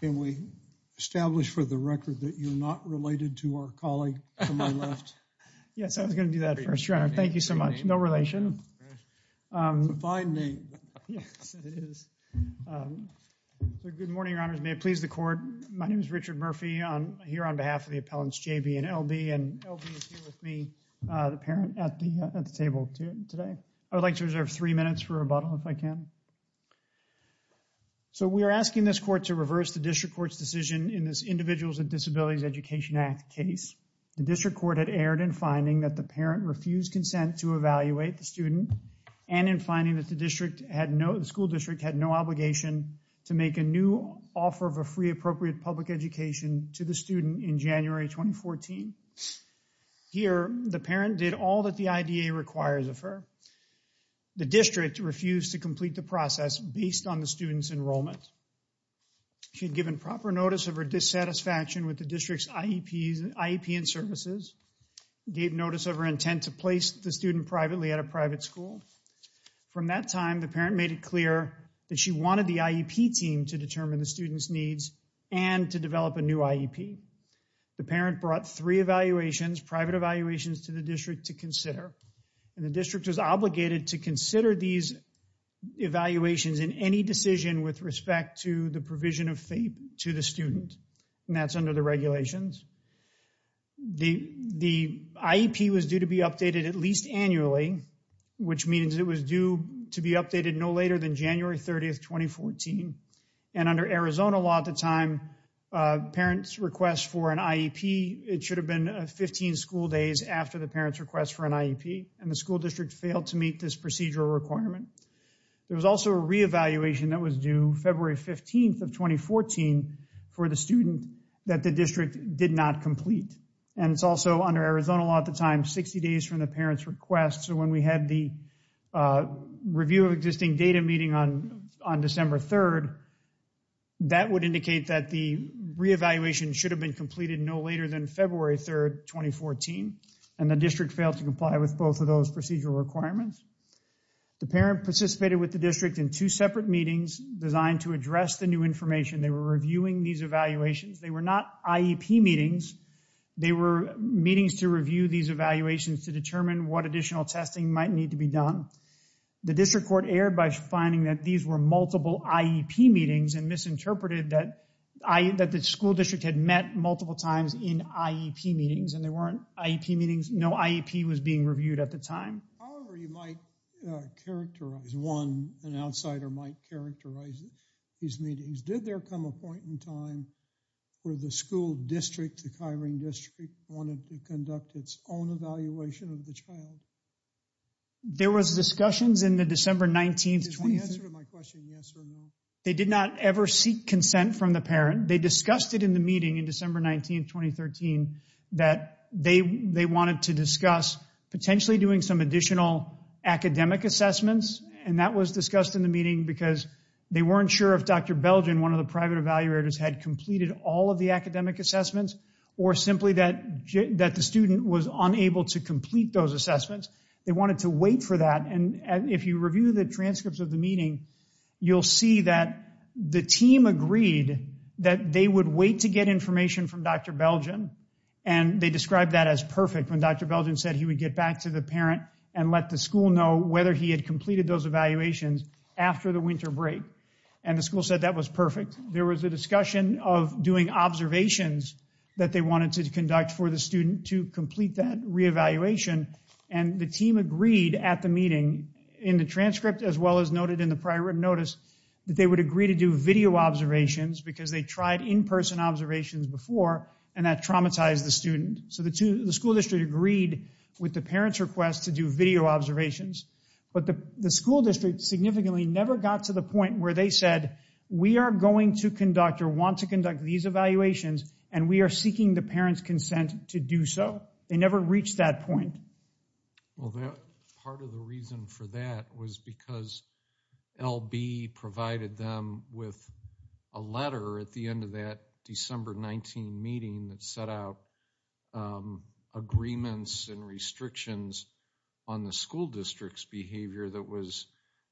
Can we establish for the record that you're not related to our colleague to my left? Yes, I was going to do that first, Your Honor. Thank you so much. No relation. It's a fine name. Yes, it is. Good morning, Your Honors. May it please the Court. My name is Richard Murphy. I'm here on behalf of the appellants J.B. and L.B., and L.B. is here with me, the parent at the table today. I would like to reserve three minutes for rebuttal, if I can. So, we are asking this Court to reverse the District Court's decision in this Individuals with Disabilities Education Act case. The District Court had erred in finding that the parent refused consent to evaluate the student and in finding that the school district had no obligation to make a new offer of a free appropriate public education to the student in January 2014. Here, the parent did all that the IDA requires of her. However, the district refused to complete the process based on the student's enrollment. She had given proper notice of her dissatisfaction with the district's IEP and services, gave notice of her intent to place the student privately at a private school. From that time, the parent made it clear that she wanted the IEP team to determine the student's needs and to develop a new IEP. The parent brought three evaluations, private evaluations, to the district to consider and the district was obligated to consider these evaluations in any decision with respect to the provision of FAPE to the student and that's under the regulations. The IEP was due to be updated at least annually, which means it was due to be updated no later than January 30, 2014 and under Arizona law at the time, parents request for an IEP, it failed to meet this procedural requirement. There was also a reevaluation that was due February 15, 2014 for the student that the district did not complete and it's also under Arizona law at the time, 60 days from the parent's request. So when we had the review of existing data meeting on December 3, that would indicate that the reevaluation should have been completed no later than February 3, 2014 and the district failed to comply with both of those procedural requirements. The parent participated with the district in two separate meetings designed to address the new information. They were reviewing these evaluations. They were not IEP meetings. They were meetings to review these evaluations to determine what additional testing might need to be done. The district court erred by finding that these were multiple IEP meetings and misinterpreted that the school district had met multiple times in IEP meetings and there weren't IEP was being reviewed at the time. However, you might characterize one, an outsider might characterize these meetings. Did there come a point in time where the school district, the Kyrene district, wanted to conduct its own evaluation of the child? There was discussions in the December 19, 2013. Can you answer my question yes or no? They did not ever seek consent from the parent. They discussed it in the meeting in December 19, 2013 that they wanted to discuss potentially doing some additional academic assessments and that was discussed in the meeting because they weren't sure if Dr. Belgin, one of the private evaluators, had completed all of the academic assessments or simply that the student was unable to complete those assessments. They wanted to wait for that and if you review the transcripts of the meeting, you'll see that the team agreed that they would wait to get information from Dr. Belgin and they described that as perfect when Dr. Belgin said he would get back to the parent and let the school know whether he had completed those evaluations after the winter break and the school said that was perfect. There was a discussion of doing observations that they wanted to conduct for the student to complete that reevaluation and the team agreed at the meeting in the transcript as well as noted in the prior written notice that they would agree to do video observations because they tried in-person observations before and that traumatized the student. So the school district agreed with the parent's request to do video observations, but the school district significantly never got to the point where they said we are going to conduct or want to conduct these evaluations and we are seeking the parent's consent to do so. They never reached that point. Well, part of the reason for that was because L.B. provided them with a letter at the end of that December 19 meeting that set out agreements and restrictions on the school district's behavior that was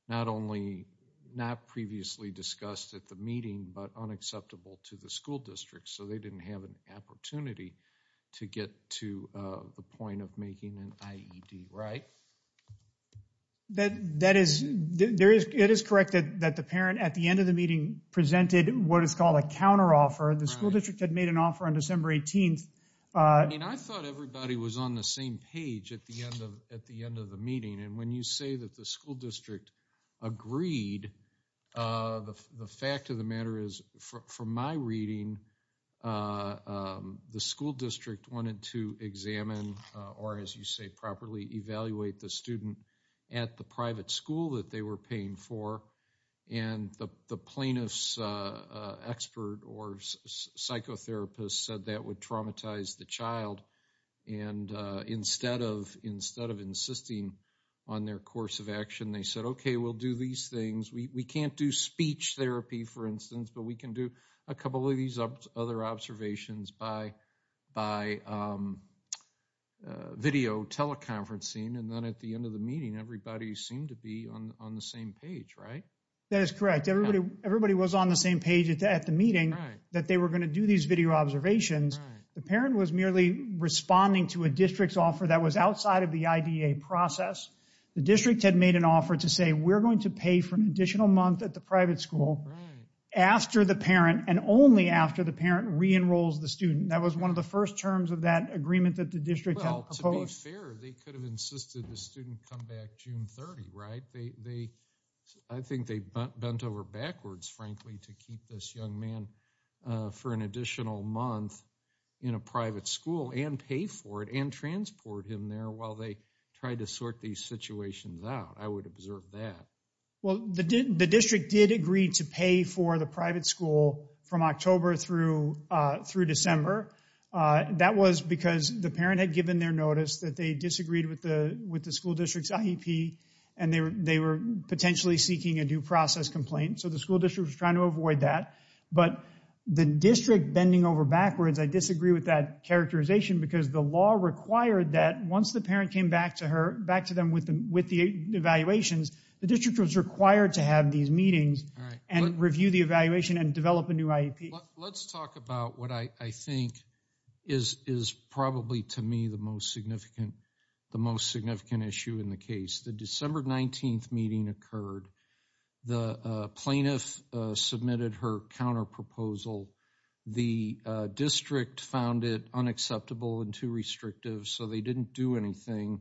not only not previously discussed at the meeting, but unacceptable to the school district so they didn't have an opportunity to get to the point of making an IED, right? That is, it is correct that the parent at the end of the meeting presented what is called a counteroffer. The school district had made an offer on December 18th. I mean, I thought everybody was on the same page at the end of the meeting and when you say that the school district agreed, the fact of the matter is, from my reading, the school district wanted to examine, or as you say properly, evaluate the student at the private school that they were paying for and the plaintiff's expert or psychotherapist said that would traumatize the child and instead of insisting on their course of action, they said, okay, we'll do these things. We can't do speech therapy, for instance, but we can do a couple of these other observations by video teleconferencing and then at the end of the meeting, everybody seemed to be on the same page, right? That is correct. Everybody was on the same page at the meeting that they were going to do these video observations. The parent was merely responding to a district's offer that was outside of the IDA process. The district had made an offer to say, we're going to pay for an additional month at the private school after the parent and only after the parent re-enrolls the student. That was one of the first terms of that agreement that the district had proposed. Well, to be fair, they could have insisted the student come back June 30, right? I think they bent over backwards, frankly, to keep this young man for an additional month in a private school and pay for it and transport him there while they tried to sort these situations out. I would observe that. Well, the district did agree to pay for the private school from October through December. That was because the parent had given their notice that they disagreed with the school and they were potentially seeking a due process complaint. So the school district was trying to avoid that. But the district bending over backwards, I disagree with that characterization because the law required that once the parent came back to them with the evaluations, the district was required to have these meetings and review the evaluation and develop a new IEP. Let's talk about what I think is probably, to me, the most significant issue in the case. The December 19th meeting occurred. The plaintiff submitted her counterproposal. The district found it unacceptable and too restrictive, so they didn't do anything.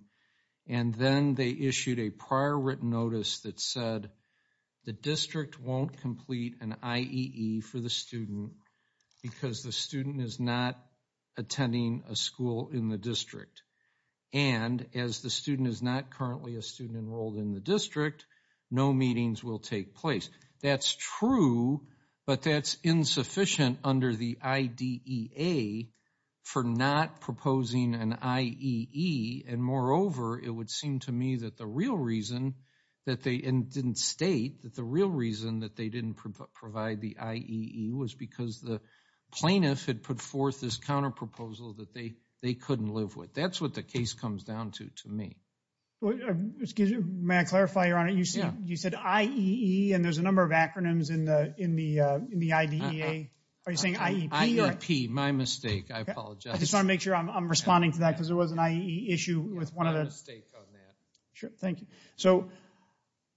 And then they issued a prior written notice that said the district won't complete an IEE for the student because the student is not attending a school in the district. And as the student is not currently a student enrolled in the district, no meetings will take place. That's true, but that's insufficient under the IDEA for not proposing an IEE. And moreover, it would seem to me that the real reason that they didn't state that the real reason that they didn't provide the IEE was because the plaintiff had put forth this counterproposal that they couldn't live with. But that's what the case comes down to, to me. May I clarify, Your Honor? You said IEE, and there's a number of acronyms in the IDEA. Are you saying IEP? IEP. My mistake. I apologize. I just want to make sure I'm responding to that because there was an IEE issue with one of the... My mistake on that. Sure. Thank you. So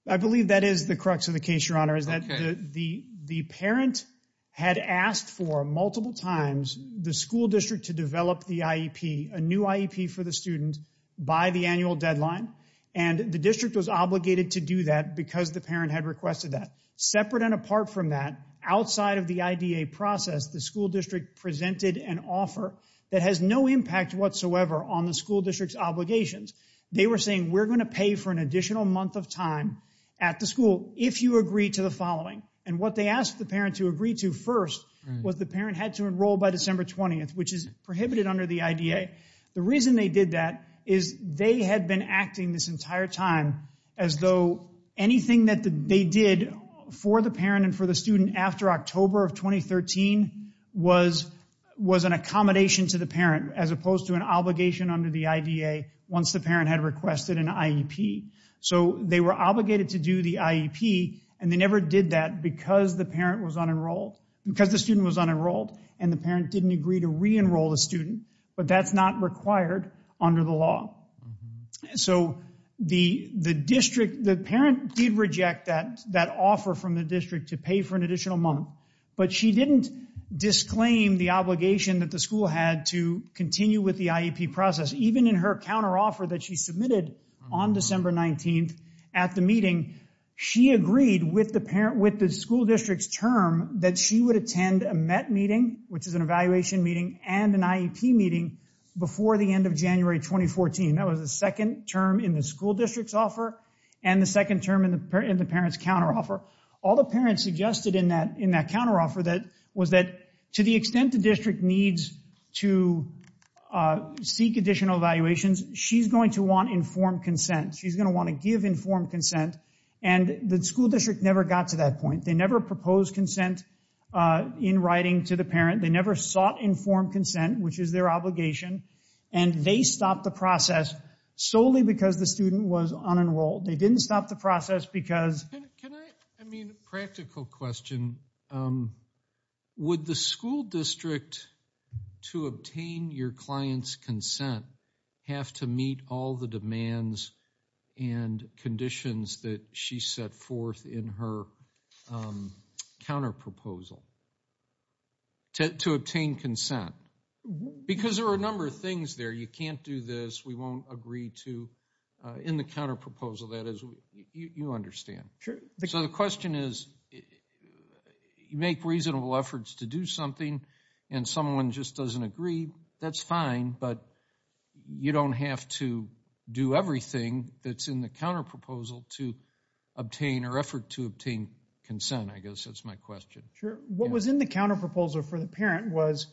I believe that is the crux of the case, Your Honor, is that the parent had asked for multiple times the school district to develop the IEP, a new IEP for the student, by the annual deadline. And the district was obligated to do that because the parent had requested that. Separate and apart from that, outside of the IDEA process, the school district presented an offer that has no impact whatsoever on the school district's obligations. They were saying, we're going to pay for an additional month of time at the school if you agree to the following. And what they asked the parent to agree to first was the parent had to enroll by December 20th, which is prohibited under the IDEA. The reason they did that is they had been acting this entire time as though anything that they did for the parent and for the student after October of 2013 was an accommodation to the parent as opposed to an obligation under the IDEA once the parent had requested an IEP. So they were obligated to do the IEP, and they never did that because the student was unenrolled and the parent didn't agree to re-enroll the student. But that's not required under the law. So the parent did reject that offer from the district to pay for an additional month, but she didn't disclaim the obligation that the school had to continue with the IEP process. Even in her counteroffer that she submitted on December 19th at the meeting, she agreed with the school district's term that she would attend a MET meeting, which is an evaluation meeting, and an IEP meeting before the end of January 2014. That was the second term in the school district's offer and the second term in the parent's counteroffer. All the parents suggested in that counteroffer was that to the extent the district needs to seek additional evaluations, she's going to want informed consent. She's going to want to give informed consent. And the school district never got to that point. They never proposed consent in writing to the parent. They never sought informed consent, which is their obligation. And they stopped the process solely because the student was unenrolled. They didn't stop the process because... I mean, practical question. Would the school district, to obtain your client's consent, have to meet all the demands and conditions that she set forth in her counterproposal to obtain consent? Because there are a number of things there. You can't do this. We won't agree to... In the counterproposal, that is. You understand. So the question is, you make reasonable efforts to do something and someone just doesn't agree. That's fine, but you don't have to do everything that's in the counterproposal to obtain or effort to obtain consent, I guess. That's my question. Sure. What was in the counterproposal for the parent was,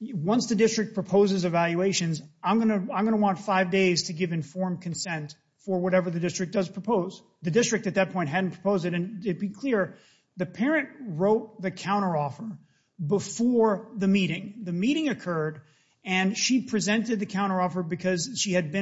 once the district proposes evaluations, I'm going to want five days to give informed consent for whatever the district does propose. The district at that point hadn't proposed it, and to be clear, the parent wrote the counteroffer before the meeting. The meeting occurred, and she presented the counteroffer because she had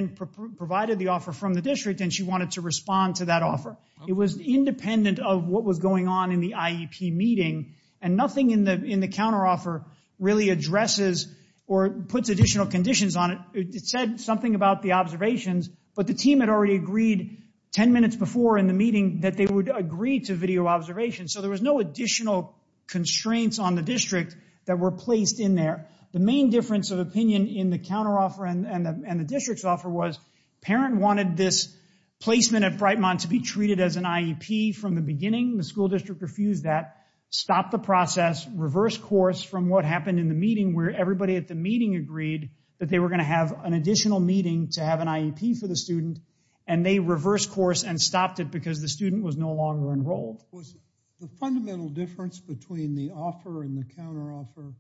provided the offer from the district and she wanted to respond to that offer. It was independent of what was going on in the IEP meeting, and nothing in the counteroffer really addresses or puts additional conditions on it. It said something about the observations, but the team had already agreed 10 minutes before in the meeting that they would agree to video observation. So there was no additional constraints on the district that were placed in there. The main difference of opinion in the counteroffer and the district's offer was, parent wanted this placement at Brightmont to be treated as an IEP from the beginning. The school district refused that, stopped the process, reversed course from what happened in the meeting where everybody at the meeting agreed that they were going to have an additional meeting to have an IEP for the student, and they reversed course and stopped it because the student was no longer enrolled. Was the fundamental difference between the offer and the counteroffer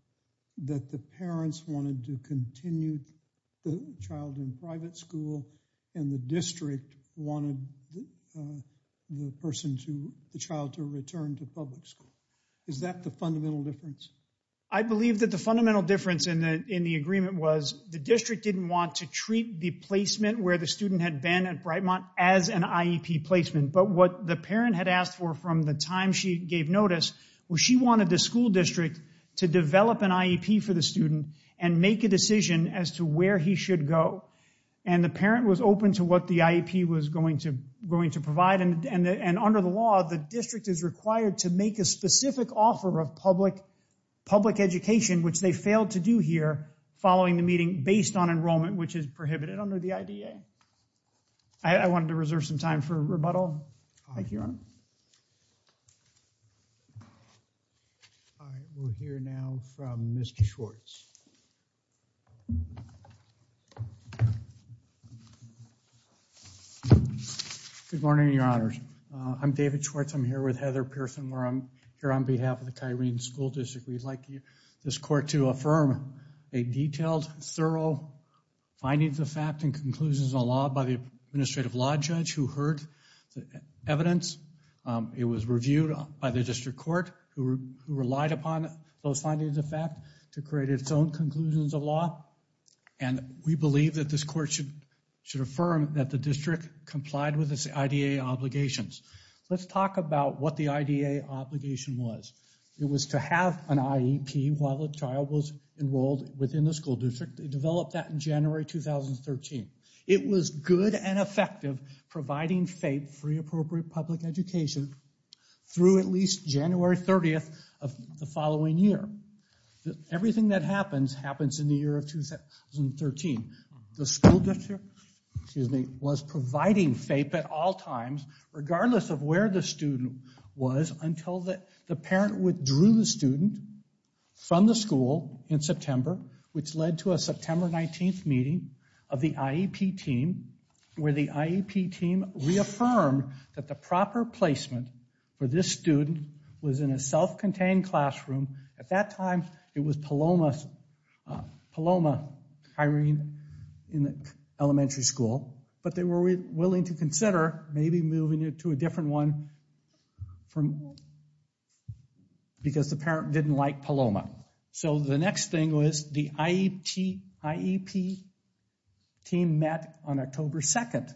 that the parents wanted to continue the child in private school and the district wanted the child to return to public school, is that the fundamental difference? I believe that the fundamental difference in the agreement was the district didn't want to treat the placement where the student had been at Brightmont as an IEP placement. But what the parent had asked for from the time she gave notice was she wanted the school district to develop an IEP for the student and make a decision as to where he should go. And the parent was open to what the IEP was going to provide, and under the law, the district is required to make a specific offer of public education, which they failed to do here following the meeting based on enrollment, which is prohibited under the IDA. I wanted to reserve some time for rebuttal. Thank you, Your Honor. All right, we'll hear now from Mr. Schwartz. Good morning, Your Honors. I'm David Schwartz. I'm here with Heather Pearson where I'm here on behalf of the Kyrene School District. We'd like this court to affirm a detailed, thorough findings of fact and conclusions of law by the administrative law judge who heard the evidence. It was reviewed by the district court who relied upon those findings of fact to create its own conclusions of law, and we believe that this court should affirm that the district complied with its IDA obligations. Let's talk about what the IDA obligation was. It was to have an IEP while a child was enrolled within the school district. They developed that in January 2013. It was good and effective providing FAPE, free appropriate public education, through at least January 30th of the following year. Everything that happens, happens in the year of 2013. The school district, excuse me, was providing FAPE at all times, regardless of where the student was, until the parent withdrew the student from the school in September, which led to a September 19th meeting of the IEP team, where the IEP team reaffirmed that the proper placement for this student was in a self-contained classroom. At that time, it was Paloma hiring in the elementary school, but they were willing to consider maybe moving it to a different one because the parent didn't like Paloma. So the next thing was the IEP team met on October 2nd.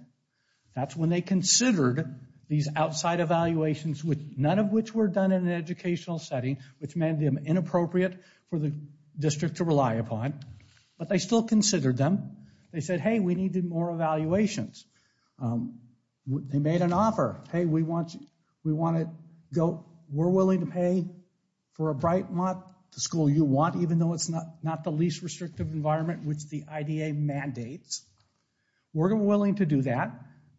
That's when they considered these outside evaluations, none of which were done in an inappropriate for the district to rely upon, but they still considered them. They said, hey, we need more evaluations. They made an offer. Hey, we want to go, we're willing to pay for a bright month, the school you want, even though it's not the least restrictive environment, which the IDA mandates. We're willing to do that,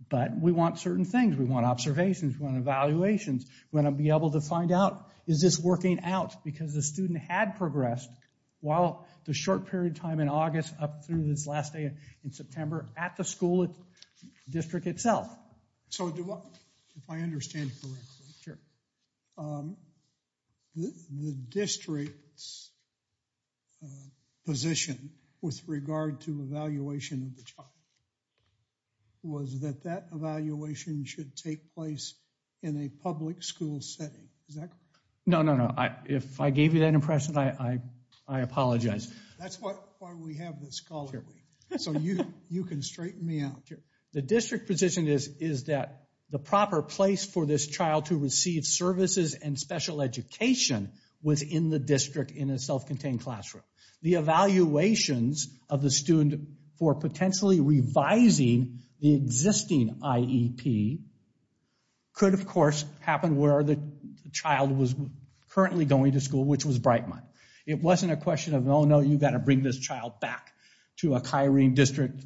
but we want certain things. We want observations. We want evaluations. We want to be able to find out, is this working out, because the student had progressed while the short period time in August up through this last day in September at the school district itself. So do I, if I understand correctly, the district's position with regard to evaluation of the in a public school setting, is that correct? No, no, no. If I gave you that impression, I apologize. That's why we have this call, so you can straighten me out. The district position is that the proper place for this child to receive services and special education was in the district in a self-contained classroom. The evaluations of the student for potentially revising the existing IEP could, of course, happen where the child was currently going to school, which was bright month. It wasn't a question of, oh, no, you've got to bring this child back to a chyrene district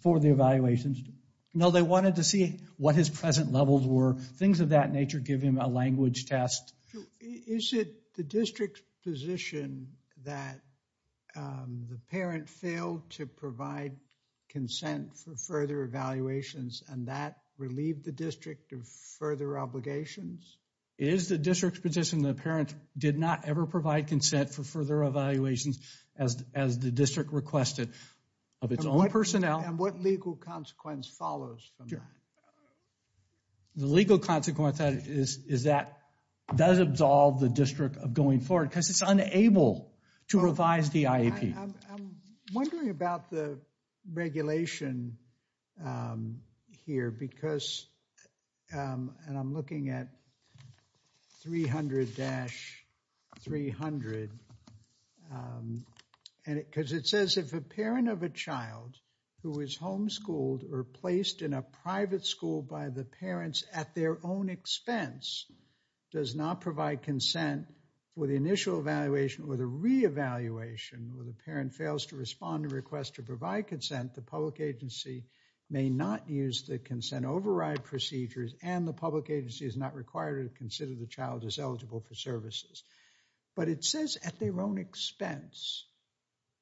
for the evaluations. No, they wanted to see what his present levels were, things of that nature, give him a language test. Is it the district's position that the parent failed to provide consent for further evaluations and that relieved the district of further obligations? It is the district's position that the parent did not ever provide consent for further evaluations as the district requested of its own personnel. And what legal consequence follows from that? The legal consequence is that does absolve the district of going forward because it's unable to revise the IEP. I'm wondering about the regulation here because, and I'm looking at 300-300, because it says if a parent of a child who is homeschooled or placed in a private school by the parents at their own expense does not provide consent for the initial evaluation or the re-evaluation where the parent fails to respond to request to provide consent, the public agency may not use the consent override procedures and the public agency is not required to consider the child as eligible for services. But it says at their own expense.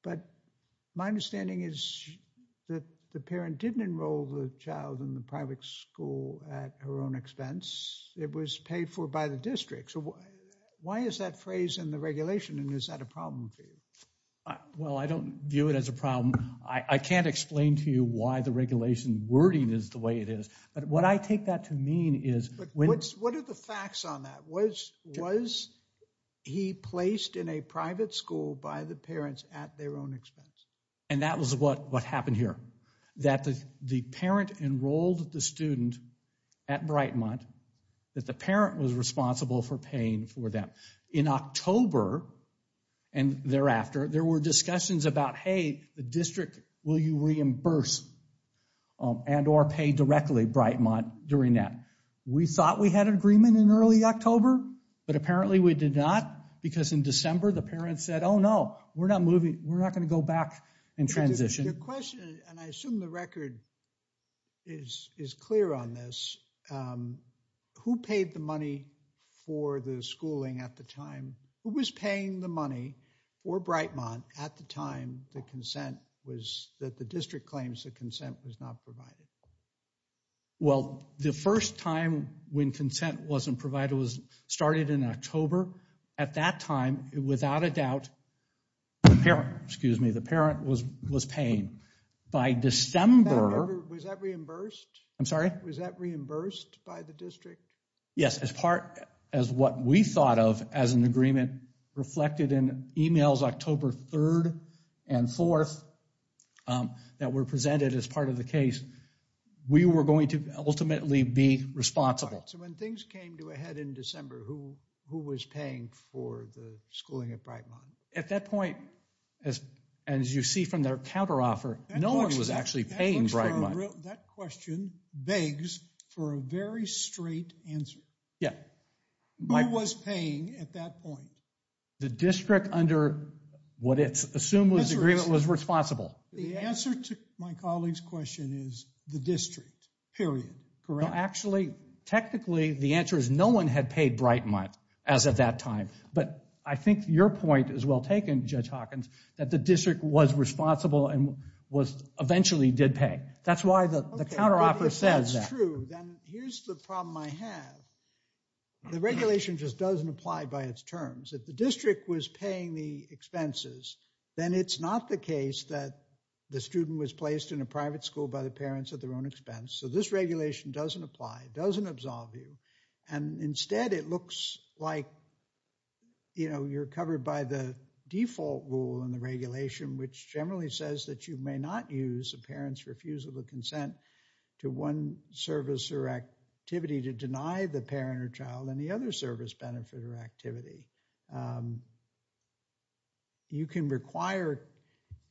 But my understanding is that the parent didn't enroll the child in the private school at her own expense. It was paid for by the district. Why is that phrase in the regulation and is that a problem for you? Well, I don't view it as a problem. I can't explain to you why the regulation wording is the way it is. But what I take that to mean is when... What are the facts on that? Was he placed in a private school by the parents at their own expense? And that was what happened here. That the parent enrolled the student at Brightmont, that the parent was responsible for paying for that. In October and thereafter, there were discussions about, hey, the district, will you reimburse and or pay directly Brightmont during that? We thought we had an agreement in early October, but apparently we did not. Because in December, the parents said, oh no, we're not moving. We're not going to go back and transition. Your question, and I assume the record is clear on this. Who paid the money for the schooling at the time? Who was paying the money for Brightmont at the time the consent was that the district claims that consent was not provided? Well, the first time when consent wasn't provided was started in October. At that time, without a doubt, the parent, excuse me, the parent was paying. By December... Was that reimbursed? I'm sorry? Was that reimbursed by the district? Yes. As part, as what we thought of as an agreement reflected in emails October 3rd and 4th that were presented as part of the case, we were going to ultimately be responsible. So when things came to a head in December, who was paying for the schooling at Brightmont? At that point, as you see from their counteroffer, no one was actually paying Brightmont. That question begs for a very straight answer. Yeah. Who was paying at that point? The district under what it's assumed was agreement was responsible. The answer to my colleague's question is the district, period. Correct. Actually, technically, the answer is no one had paid Brightmont as at that time. But I think your point is well taken, Judge Hawkins, that the district was responsible and was eventually did pay. That's why the counteroffer says that. Okay, but if that's true, then here's the problem I have. The regulation just doesn't apply by its terms. If the district was paying the expenses, then it's not the case that the student was placed in a private school by the parents at their own expense. So this regulation doesn't apply, doesn't absolve you. And instead, it looks like you're covered by the default rule in the regulation, which generally says that you may not use a parent's refusal to consent to one service or activity to deny the parent or child any other service, benefit, or activity. You can require,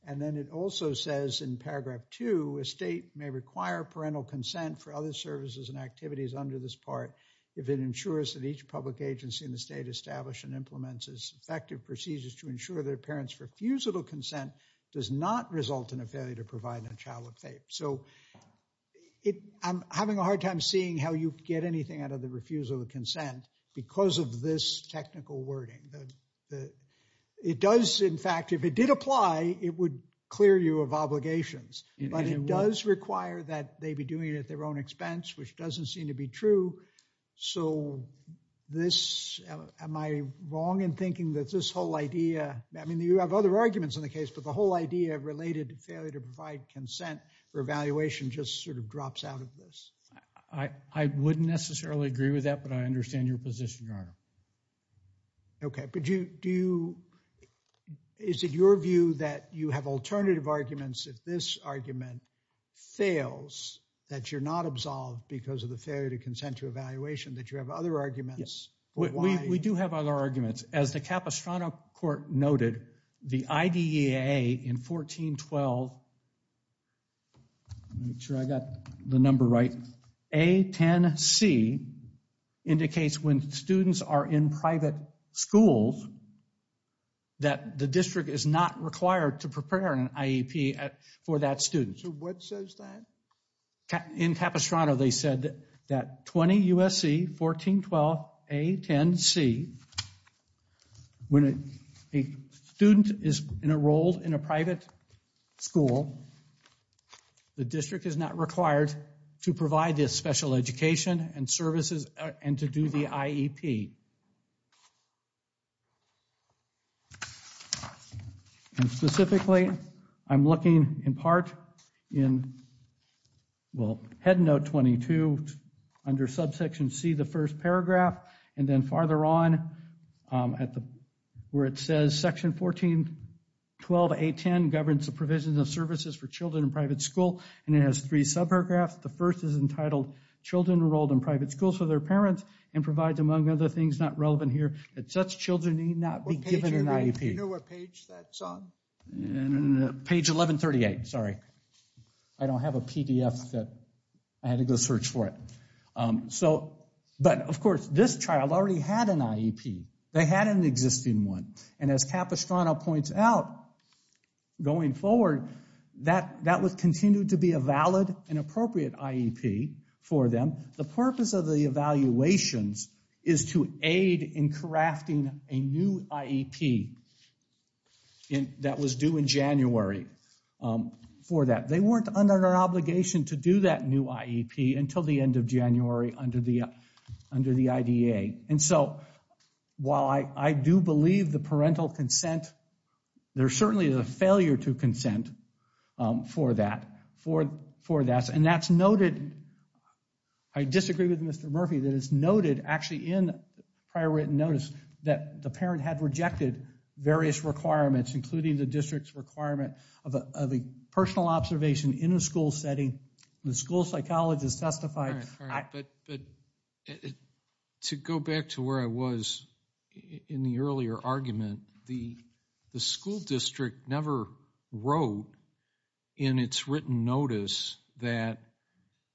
and then it also says in paragraph two, a state may require parental consent for other services and activities under this part if it ensures that each public agency in the state established and implements effective procedures to ensure their parents refusal to consent does not result in a failure to provide a child with FAPE. So I'm having a hard time seeing how you get anything out of the refusal of consent because of this technical wording. It does, in fact, if it did apply, it would clear you of obligations. But it does require that they be doing it at their own expense, which doesn't seem to be true. So this, am I wrong in thinking that this whole idea, I mean, you have other arguments in the case, but the whole idea related to failure to provide consent for evaluation just sort of drops out of this? I wouldn't necessarily agree with that, but I understand your position, Your Honor. Okay, but do you, is it your view that you have alternative arguments if this argument fails that you're not absolved because of the failure to consent to evaluation, that you have other arguments? We do have other arguments. As the Capistrano court noted, the IDEAA in 1412, make sure I got the number right, A10C indicates when students are in private schools that the district is not required to prepare an IEP for that student. So what says that? In Capistrano, they said that 20 U.S.C. 1412 A10C, when a student is enrolled in a private school, the district is not required to provide this special education and services and to do the IEP. And specifically, I'm looking in part in, well, Head Note 22 under subsection C, the first paragraph, and then farther on at the, where it says section 1412 A10 governs the provisions of services for children in private school, and it has three subparagraphs. The first is entitled children enrolled in private schools for their parents and provides among other things not relevant here, that such children need not be given an IEP. Do you know what page that's on? Page 1138, sorry. I don't have a PDF that, I had to go search for it. But of course, this child already had an IEP. They had an existing one. And as Capistrano points out, going forward, that would continue to be a valid and appropriate IEP for them. The purpose of the evaluations is to aid in crafting a new IEP that was due in January for that. They weren't under obligation to do that new IEP until the end of January under the IDA. And so, while I do believe the parental consent, there certainly is a failure to consent for that. And that's noted, I disagree with Mr. Murphy, that it's noted actually in prior written notice that the parent had rejected various requirements, including the district's requirement of a personal observation in a school setting. The school psychologist testified. All right, but to go back to where I was in the earlier argument, the school district never wrote in its written notice that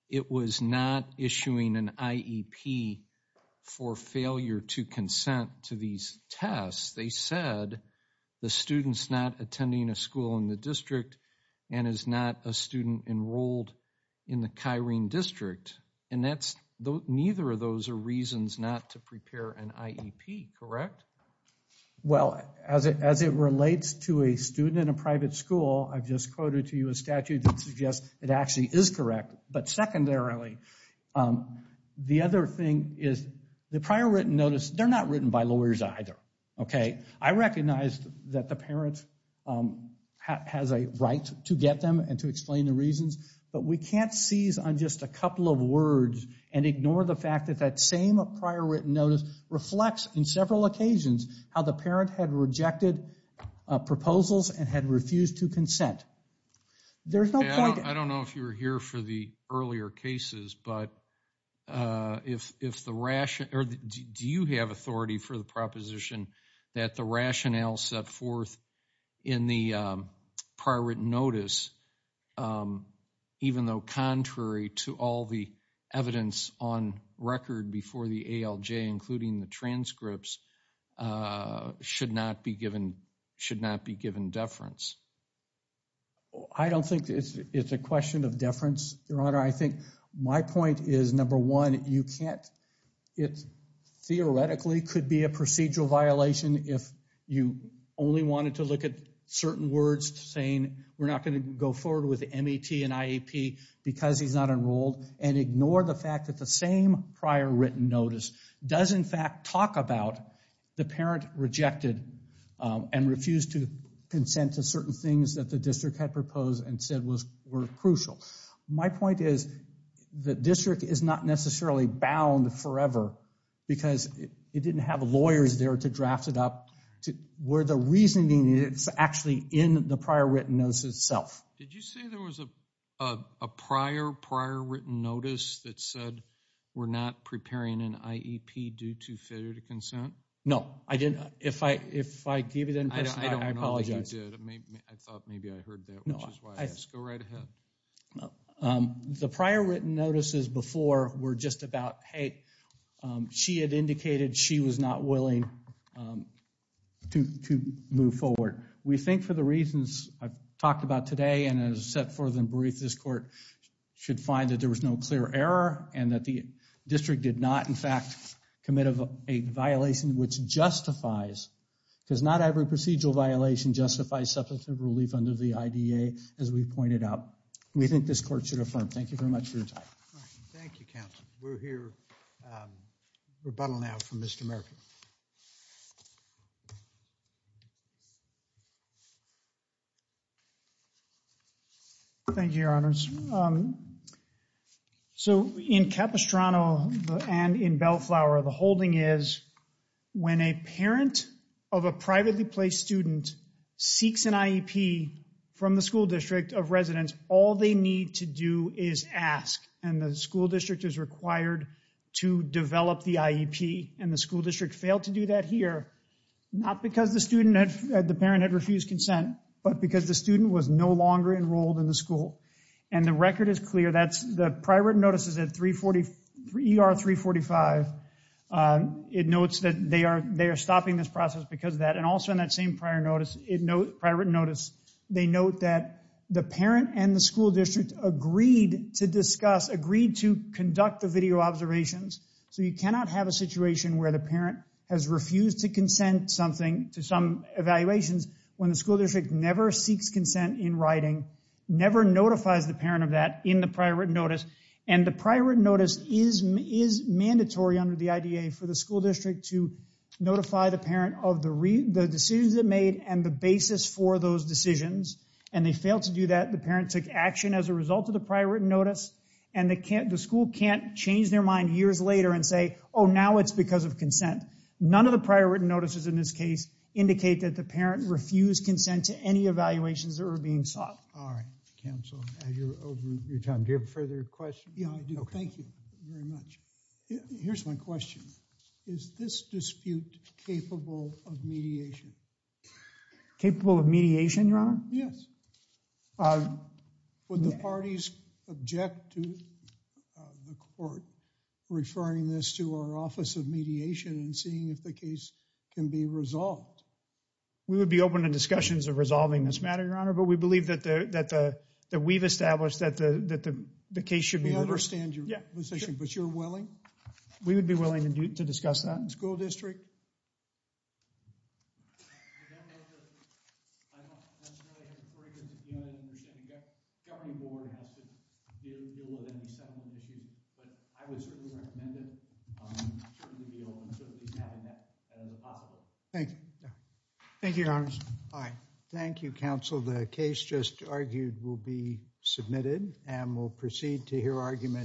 it was not issuing an IEP for failure to consent to these tests. They said the student's not attending a school in the district and is not a student enrolled in the Kyrene District. And neither of those are reasons not to prepare an IEP, correct? Well, as it relates to a student in a private school, I've just quoted to you a statute that suggests it actually is correct. But secondarily, the other thing is the prior written notice, they're not written by lawyers either. Okay? I recognize that the parent has a right to get them and to explain the reasons, but we can't seize on just a couple of words and ignore the fact that that same prior written notice reflects in several occasions how the parent had rejected proposals and had refused to consent. I don't know if you were here for the earlier cases, but do you have authority for the proposition that the rationale set forth in the prior written notice, even though contrary to all the evidence on record before the ALJ, including the transcripts, should not be given deference? I don't think it's a question of deference, Your Honor. I think my point is, number one, it theoretically could be a procedural violation if you only wanted to look at certain words saying, we're not going to go forward with MET and IEP because he's not enrolled, and ignore the fact that the same prior written notice does, in fact, talk about the parent rejected and refused to consent to certain things that the district had proposed and said were crucial. My point is, the district is not necessarily bound forever because it didn't have lawyers there to draft it up where the reasoning is actually in the prior written notice itself. Did you say there was a prior written notice that said we're not preparing an IEP due to failure to consent? No, I didn't. If I gave you that information, I apologize. I don't know that you did. I thought maybe I heard that, which is why I asked. Go right ahead. No. The prior written notices before were just about, hey, she had indicated she was not willing to move forward. We think for the reasons I've talked about today and as set forth in brief, this court should find that there was no clear error and that the district did not, in fact, commit a violation which justifies, because not every procedural violation justifies substantive relief under the IDA, as we've pointed out. We think this court should affirm. Thank you very much for your time. Thank you, counsel. We'll hear rebuttal now from Mr. Murphy. Thank you, your honors. So in Capistrano and in Bellflower, the holding is when a parent of a privately placed student seeks an IEP from the school district of residence, all they need to do is ask and the school district is required to develop the IEP and the school district failed to do that here, not because the student, the parent had refused consent, but because the student was no longer enrolled in the school. And the record is clear. That's the prior written notices at ER 345. It notes that they are stopping this process because of that. And also in that same prior written notice, they note that the parent and the school district agreed to discuss, agreed to conduct the video observations. So you cannot have a situation where the parent has refused to consent something to some evaluations when the school district never seeks consent in writing, never notifies the parent of that in the prior written notice. And the prior written notice is mandatory under the IDA for the school district to notify the parent of the decisions they made and the basis for those decisions. And they failed to do that. The parent took action as a result of the prior written notice and the school can't change their mind years later and say, oh, now it's because of consent. None of the prior written notices in this case indicate that the parent refused consent to any evaluations that were being sought. All right. Counsel, as you're over your time, do you have a further question? Yeah, I do. Thank you very much. Here's my question. Is this dispute capable of mediation? Capable of mediation, Your Honor? Yes. Would the parties object to the court referring this to our office of mediation and seeing if the case can be resolved? We would be open to discussions of resolving this matter, Your Honor, but we believe that we've established that the case should be reversed. We understand your position, but you're willing? We would be willing to discuss that. School district? Governing Board has to deal with any settlement issue, but I would certainly recommend it. Certainly be open to having that as a possibility. Thank you. Thank you, Your Honors. All right. Thank you, Counsel. The case just argued will be submitted and we'll proceed to hear argument.